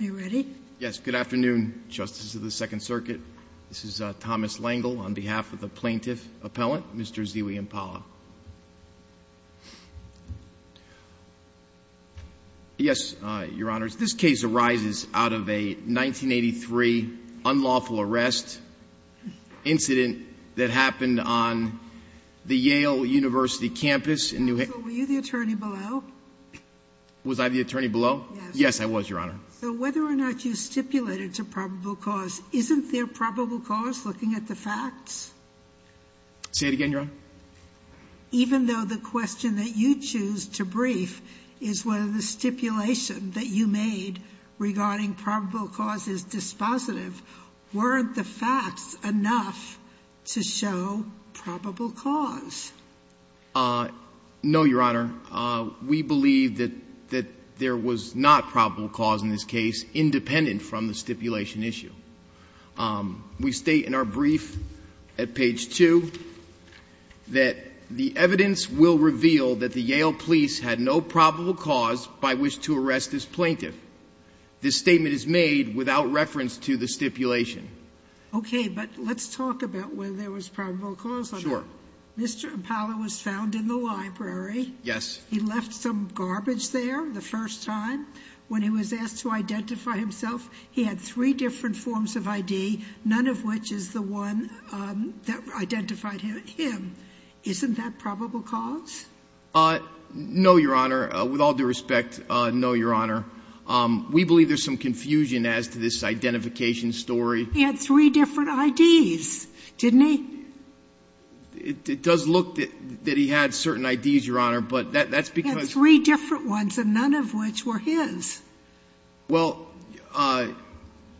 Are you ready? Yes. Good afternoon, Justices of the Second Circuit. This is Thomas Lengel on behalf of the plaintiff appellant, Mr. Ziwi Mpala. Yes, Your Honors, this case arises out of a 1983 unlawful arrest incident that happened on the Yale University campus in New Haven. So were you the attorney below? Was I the attorney below? Yes, I was, Your Honor. So whether or not you stipulated to probable cause, isn't there probable cause looking at the facts? Say it again, Your Honor. Even though the question that you choose to brief is whether the stipulation that you made regarding probable cause is dispositive, weren't the facts enough to show probable cause? No, Your Honor. We believe that there was not probable cause in this case independent from the stipulation issue. We state in our brief at page 2 that the evidence will reveal that the Yale police had no probable cause by which to arrest this plaintiff. This statement is made without reference to the stipulation. Okay. But let's talk about whether there was probable cause. Sure. Mr. Impala was found in the library. Yes. He left some garbage there the first time. When he was asked to identify himself, he had three different forms of ID, none of which is the one that identified him. Isn't that probable cause? No, Your Honor. With all due respect, no, Your Honor. We believe there's some confusion as to this identification story. He had three different IDs, didn't he? It does look that he had certain IDs, Your Honor, but that's because he had three different ones, and none of which were his. Well,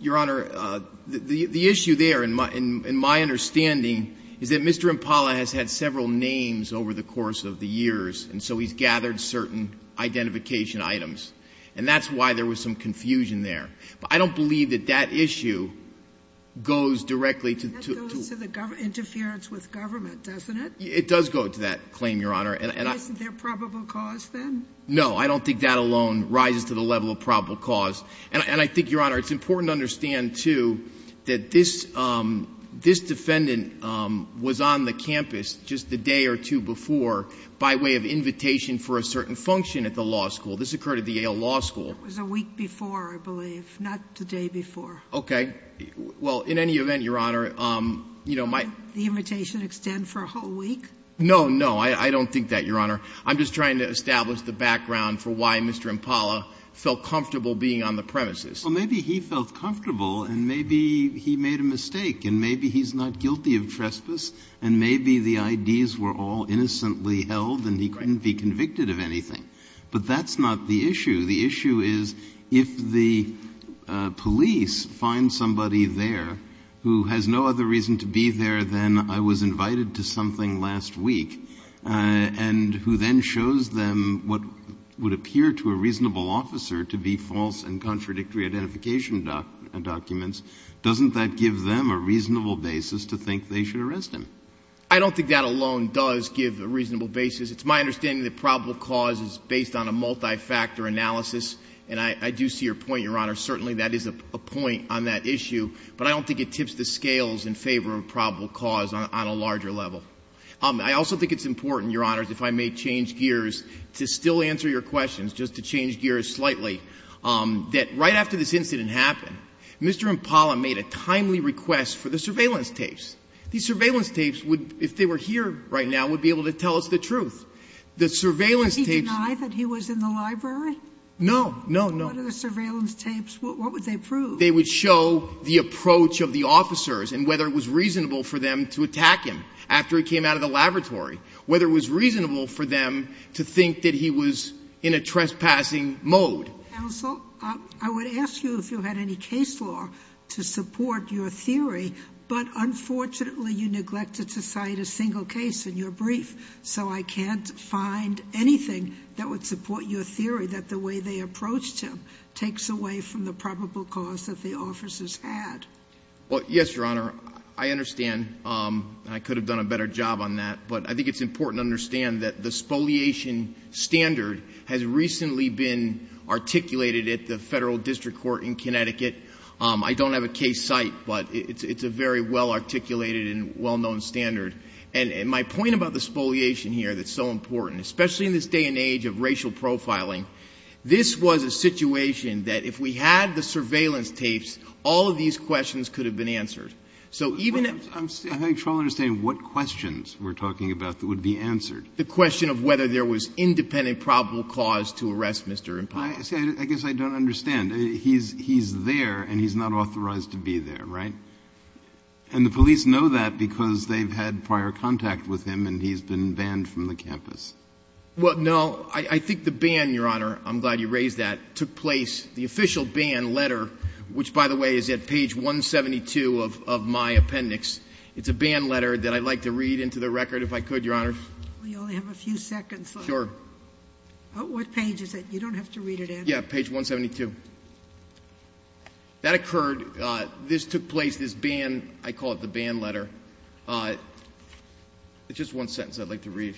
Your Honor, the issue there, in my understanding, is that Mr. Impala has had several names over the course of the years, and so he's gathered certain identification items, and that's why there was some confusion there. But I don't believe that that issue goes directly to the government. It's not interference with government, doesn't it? It does go to that claim, Your Honor. Isn't there probable cause then? No, I don't think that alone rises to the level of probable cause. And I think, Your Honor, it's important to understand, too, that this defendant was on the campus just the day or two before by way of invitation for a certain function at the law school. This occurred at the Yale Law School. It was a week before, I believe, not the day before. Okay. Well, in any event, Your Honor, you know, my ---- Did the invitation extend for a whole week? No, no. I don't think that, Your Honor. I'm just trying to establish the background for why Mr. Impala felt comfortable being on the premises. Well, maybe he felt comfortable, and maybe he made a mistake, and maybe he's not guilty of trespass, and maybe the IDs were all innocently held, and he couldn't be convicted of anything. But that's not the issue. The issue is, if the police find somebody there who has no other reason to be there than I was invited to something last week, and who then shows them what would appear to a reasonable officer to be false and contradictory identification documents, doesn't that give them a reasonable basis to think they should arrest him? I don't think that alone does give a reasonable basis. It's my understanding that probable cause is based on a multi-factor analysis, and I do see your point, Your Honor. Certainly, that is a point on that issue, but I don't think it tips the scales in favor of probable cause on a larger level. I also think it's important, Your Honor, if I may change gears, to still answer your questions, just to change gears slightly, that right after this incident happened, Mr. Impala made a timely request for the surveillance tapes. These surveillance tapes would, if they were here right now, would be able to tell us the truth. The surveillance tapes— Did he deny that he was in the library? No, no, no. What are the surveillance tapes? What would they prove? They would show the approach of the officers and whether it was reasonable for them to attack him after he came out of the laboratory, whether it was reasonable for them to think that he was in a trespassing mode. Counsel, I would ask you if you had any case law to support your theory, but unfortunately you neglected to cite a single case in your brief, so I can't find anything that would support your theory that the way they approached him takes away from the probable cause that the officers had. Well, yes, Your Honor. I understand, and I could have done a better job on that, but I think it's important to understand that the spoliation standard has recently been articulated at the Federal District Court in Connecticut. I don't have a case cite, but it's a very well-articulated and well-known standard. And my point about the spoliation here that's so important, especially in this day and age of racial profiling, this was a situation that if we had the surveillance tapes, all of these questions could have been answered. So even if— I'm having trouble understanding what questions we're talking about that would be answered. The question of whether there was independent probable cause to arrest Mr. Impala. I guess I don't understand. He's there and he's not authorized to be there, right? And the police know that because they've had prior contact with him and he's been banned from the campus. Well, no. I think the ban, Your Honor, I'm glad you raised that, took place, the official ban letter, which, by the way, is at page 172 of my appendix. It's a ban letter that I'd like to read into the record if I could, Your Honor. We only have a few seconds left. Sure. What page is it? You don't have to read it in. Yeah, page 172. That occurred. This took place, this ban—I call it the ban letter. It's just one sentence I'd like to read.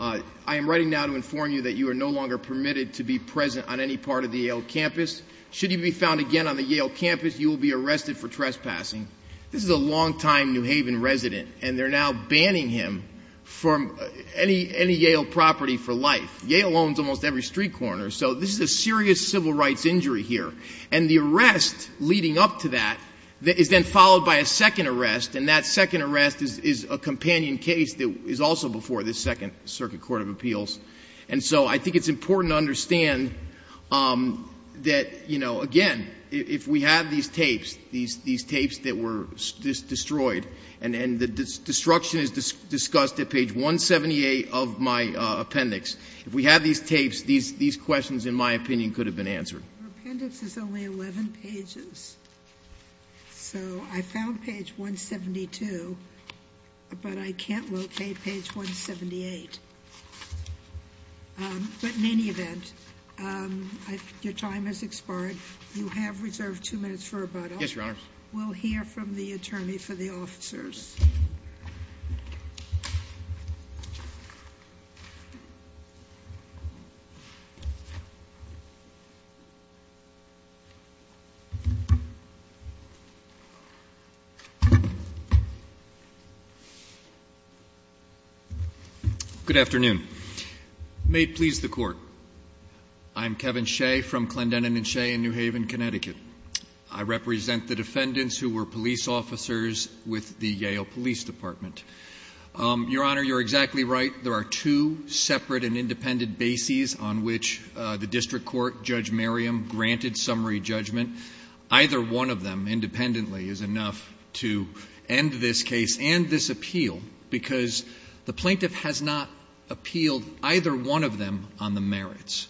I am writing now to inform you that you are no longer permitted to be present on any part of the Yale campus. Should you be found again on the Yale campus, you will be arrested for trespassing. This is a longtime New Haven resident, and they're now banning him from any Yale property for life. Yale owns almost every street corner. So this is a serious civil rights injury here. And the arrest leading up to that is then followed by a second arrest, and that second arrest is a companion case that is also before the Second Circuit Court of Appeals. And so I think it's important to understand that, you know, again, if we have these tapes, these tapes that were destroyed, and the destruction is discussed at page 178 of my appendix, if we have these tapes, these questions, in my opinion, could have been answered. Your appendix is only 11 pages. So I found page 172, but I can't locate page 178. But in any event, your time has expired. You have reserved two minutes for rebuttal. Yes, Your Honors. We'll hear from the attorney for the officers. Good afternoon. May it please the Court. I'm Kevin Shea from Clendenin and Shea in New Haven, Connecticut. I represent the defendants who were police officers with the Yale Police Department. Your Honor, you're exactly right. There are two separate and independent bases on which the district court, Judge Merriam, granted summary judgment. Either one of them independently is enough to end this case and this appeal, because the plaintiff has not appealed either one of them on the merits.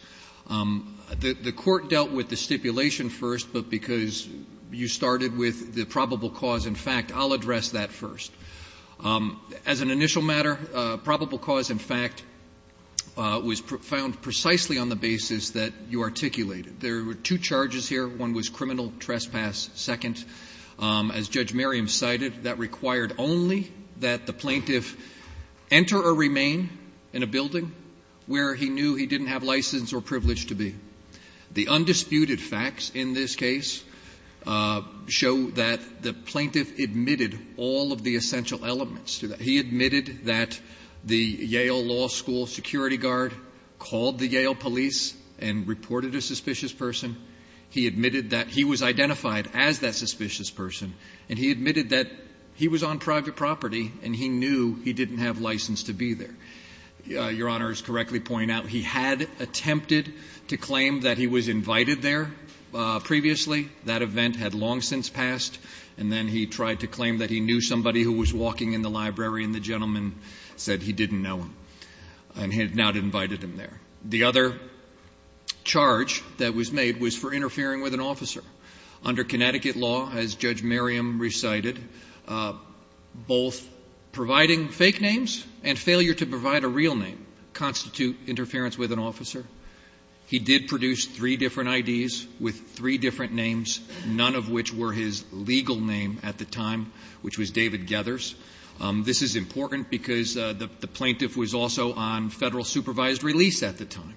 The court dealt with the stipulation first, but because you started with the probable cause in fact, I'll address that first. As an initial matter, probable cause in fact was found precisely on the basis that you articulated. There were two charges here. One was criminal trespass. Second, as Judge Merriam cited, that required only that the plaintiff enter or remain in a building where he knew he didn't have license or privilege to be. The undisputed facts in this case show that the plaintiff admitted all of the assumptions and essential elements to that. He admitted that the Yale Law School security guard called the Yale police and reported a suspicious person. He admitted that he was identified as that suspicious person. And he admitted that he was on private property and he knew he didn't have license to be there. Your Honor is correctly pointing out he had attempted to claim that he was invited there previously. That event had long since passed. And then he tried to claim that he knew somebody who was walking in the library and the gentleman said he didn't know him and had not invited him there. The other charge that was made was for interfering with an officer. Under Connecticut law, as Judge Merriam recited, both providing fake names and failure to provide a real name constitute interference with an officer. He did produce three different IDs with three different names, none of which were his legal name at the time, which was David Gethers. This is important because the plaintiff was also on Federal supervised release at the time.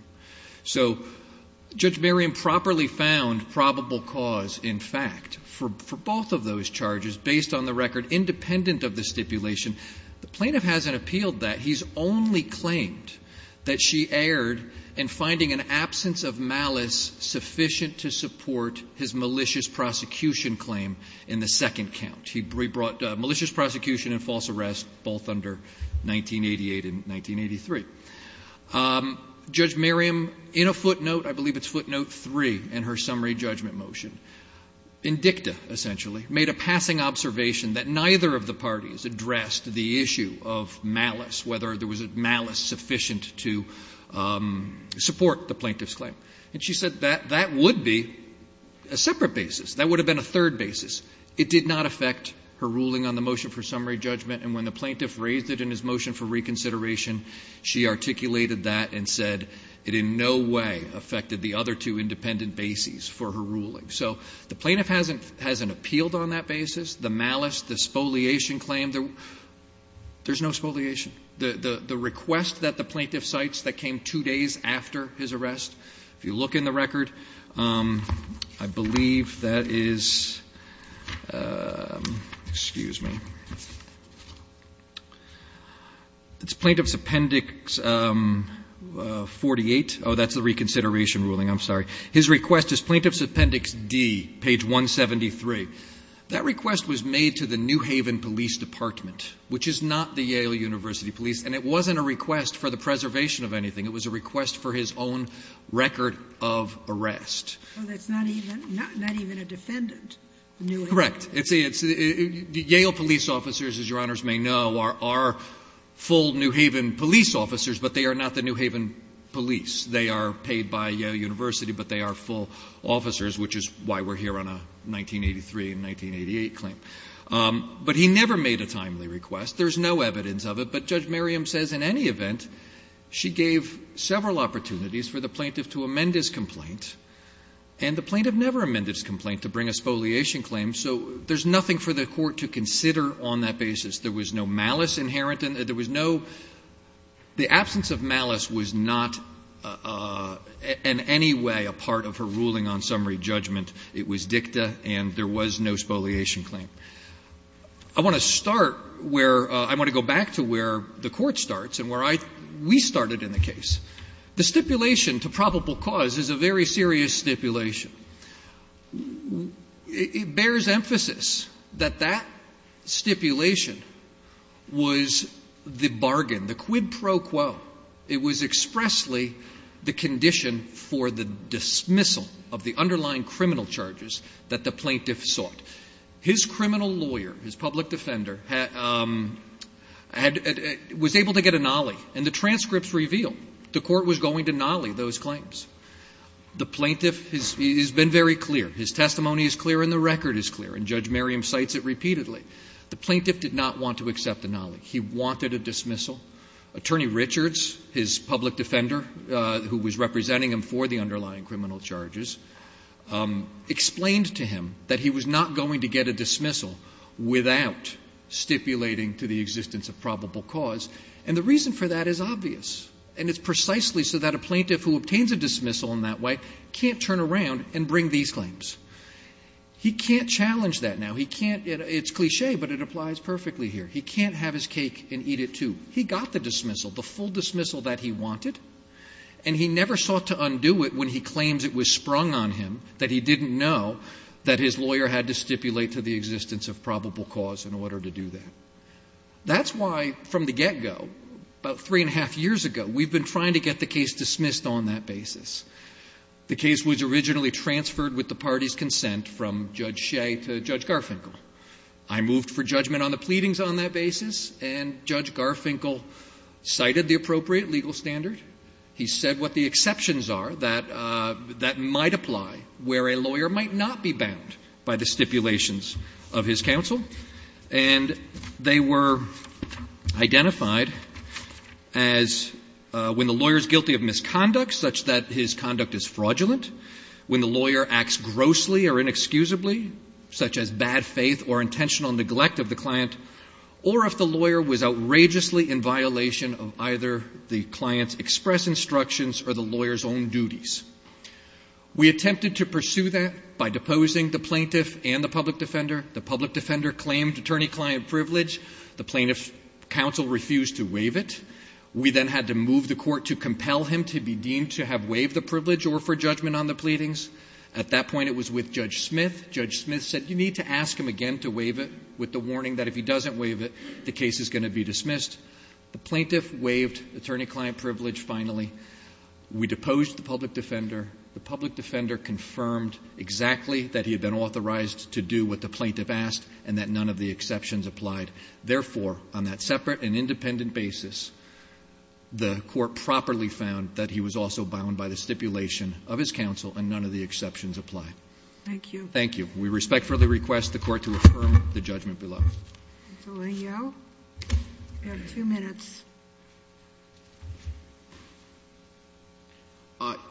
So Judge Merriam properly found probable cause, in fact, for both of those charges based on the record independent of the stipulation. The plaintiff hasn't appealed that. He's only claimed that she erred in finding an absence of malice sufficient to support his malicious prosecution claim in the second count. He brought malicious prosecution and false arrest both under 1988 and 1983. Judge Merriam, in a footnote, I believe it's footnote 3 in her summary judgment motion, in dicta essentially, made a passing observation that neither of the parties addressed the issue of malice, whether there was malice sufficient to support the plaintiff's claim. And she said that that would be a separate basis. That would have been a third basis. It did not affect her ruling on the motion for summary judgment. And when the plaintiff raised it in his motion for reconsideration, she articulated that and said it in no way affected the other two independent bases for her ruling. So the plaintiff hasn't appealed on that basis. The malice, the spoliation claim, there's no spoliation. The request that the plaintiff cites that came two days after his arrest, if you look in the record, I believe that is, excuse me. It's Plaintiff's Appendix 48. Oh, that's the reconsideration ruling. I'm sorry. His request is Plaintiff's Appendix D, page 173. That request was made to the New Haven Police Department, which is not the Yale University Police. And it wasn't a request for the preservation of anything. It was a request for his own record of arrest. Well, that's not even a defendant. Correct. The Yale police officers, as Your Honors may know, are full New Haven police officers, but they are not the New Haven police. They are paid by Yale University, but they are full officers, which is why we're here on a 1983 and 1988 claim. But he never made a timely request. There's no evidence of it. But Judge Merriam says in any event she gave several opportunities for the plaintiff to amend his complaint, and the plaintiff never amended his complaint to bring a spoliation claim. So there's nothing for the Court to consider on that basis. There was no malice inherent in it. There was no — the absence of malice was not in any way a part of her ruling on summary judgment. It was dicta, and there was no spoliation claim. I want to start where — I want to go back to where the Court starts and where I — we started in the case. The stipulation to probable cause is a very serious stipulation. It bears emphasis that that stipulation was the bargain, the quid pro quo. It was expressly the condition for the dismissal of the underlying criminal charges that the plaintiff sought. His criminal lawyer, his public defender, had — was able to get a nollie, and the transcripts reveal the Court was going to nollie those claims. The plaintiff has been very clear. His testimony is clear and the record is clear, and Judge Merriam cites it repeatedly. The plaintiff did not want to accept a nollie. He wanted a dismissal. Attorney Richards, his public defender who was representing him for the underlying criminal charges, explained to him that he was not going to get a dismissal without stipulating to the existence of probable cause. And the reason for that is obvious, and it's precisely so that a plaintiff who obtains a dismissal in that way can't turn around and bring these claims. He can't challenge that now. He can't — it's cliché, but it applies perfectly here. He can't have his cake and eat it, too. He got the dismissal, the full dismissal that he wanted, and he never sought to undo it when he claims it was sprung on him, that he didn't know that his lawyer had to stipulate to the existence of probable cause in order to do that. That's why, from the get-go, about three-and-a-half years ago, we've been trying to get the case dismissed on that basis. The case was originally transferred with the party's consent from Judge Shea to Judge Garfinkel. I moved for judgment on the pleadings on that basis, and Judge Garfinkel cited the appropriate legal standard. He said what the exceptions are that — that might apply where a lawyer might not be bound by the stipulations of his counsel. And they were identified as when the lawyer is guilty of misconduct, such that his conduct is fraudulent. When the lawyer acts grossly or inexcusably, such as bad faith or intentional neglect of the client, or if the lawyer was outrageously in violation of either the client's express instructions or the lawyer's own duties. We attempted to pursue that by deposing the plaintiff and the public defender. The public defender claimed attorney-client privilege. The plaintiff's counsel refused to waive it. We then had to move the court to compel him to be deemed to have waived the privilege or for judgment on the pleadings. At that point, it was with Judge Smith. Judge Smith said you need to ask him again to waive it with the warning that if he doesn't waive it, the case is going to be dismissed. The plaintiff waived attorney-client privilege finally. We deposed the public defender. The public defender confirmed exactly that he had been authorized to do what the plaintiff asked and that none of the exceptions applied. Therefore, on that separate and independent basis, the Court properly found that he was also bound by the stipulation of his counsel and none of the exceptions apply. Thank you. Thank you. We respectfully request the Court to affirm the judgment below. Ms. Alito. You have two minutes.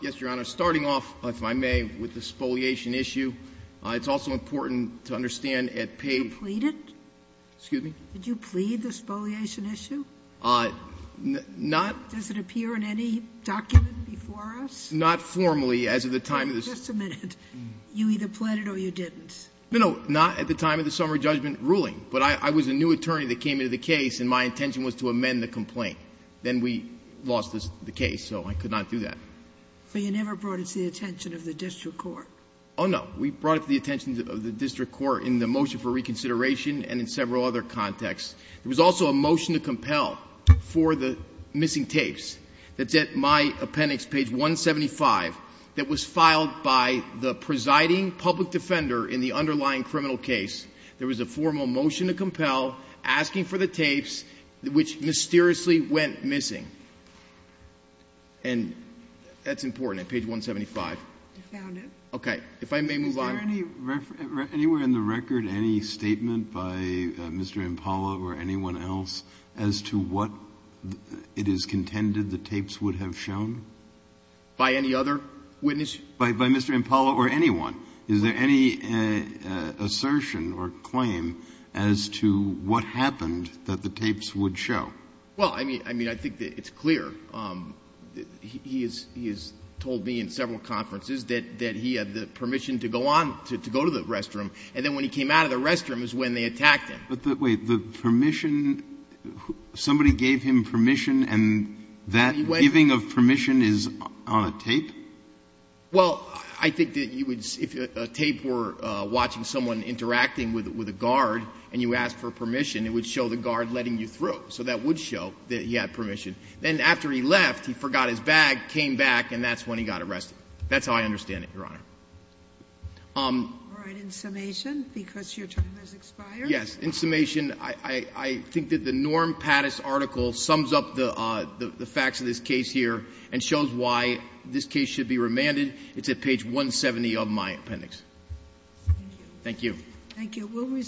Yes, Your Honor. Starting off, if I may, with the spoliation issue, it's also important to understand at page. Did you plead it? Excuse me? Did you plead the spoliation issue? Not. Does it appear in any document before us? Not formally as of the time of this. Just a minute. You either pled it or you didn't. No, no. Not at the time of the summary judgment ruling. But I was a new attorney that came into the case and my intention was to amend the complaint. Then we lost the case, so I could not do that. But you never brought it to the attention of the district court. Oh, no. We brought it to the attention of the district court in the motion for reconsideration and in several other contexts. There was also a motion to compel for the missing tapes. That's at my appendix, page 175, that was filed by the presiding public defender in the underlying criminal case. There was a formal motion to compel asking for the tapes, which mysteriously went missing. And that's important at page 175. You found it. Okay. If I may move on. Is there anywhere in the record any statement by Mr. Impala or anyone else as to what it is contended the tapes would have shown? By any other witness? By Mr. Impala or anyone. Is there any assertion or claim as to what happened that the tapes would show? Well, I mean, I think it's clear. He has told me in several conferences that he had the permission to go on, to go to the restroom. And then when he came out of the restroom is when they attacked him. But, wait, the permission, somebody gave him permission, and that giving of permission is on a tape? Well, I think that you would, if a tape were watching someone interacting with a guard and you asked for permission, it would show the guard letting you through. So that would show that he had permission. Then after he left, he forgot his bag, came back, and that's when he got arrested. That's how I understand it, Your Honor. All right. In summation, because your time has expired. Yes. In summation, I think that the Norm Pattis article sums up the facts of this case here and shows why this case should be remanded. It's at page 170 of my appendix. Thank you. Thank you. Thank you.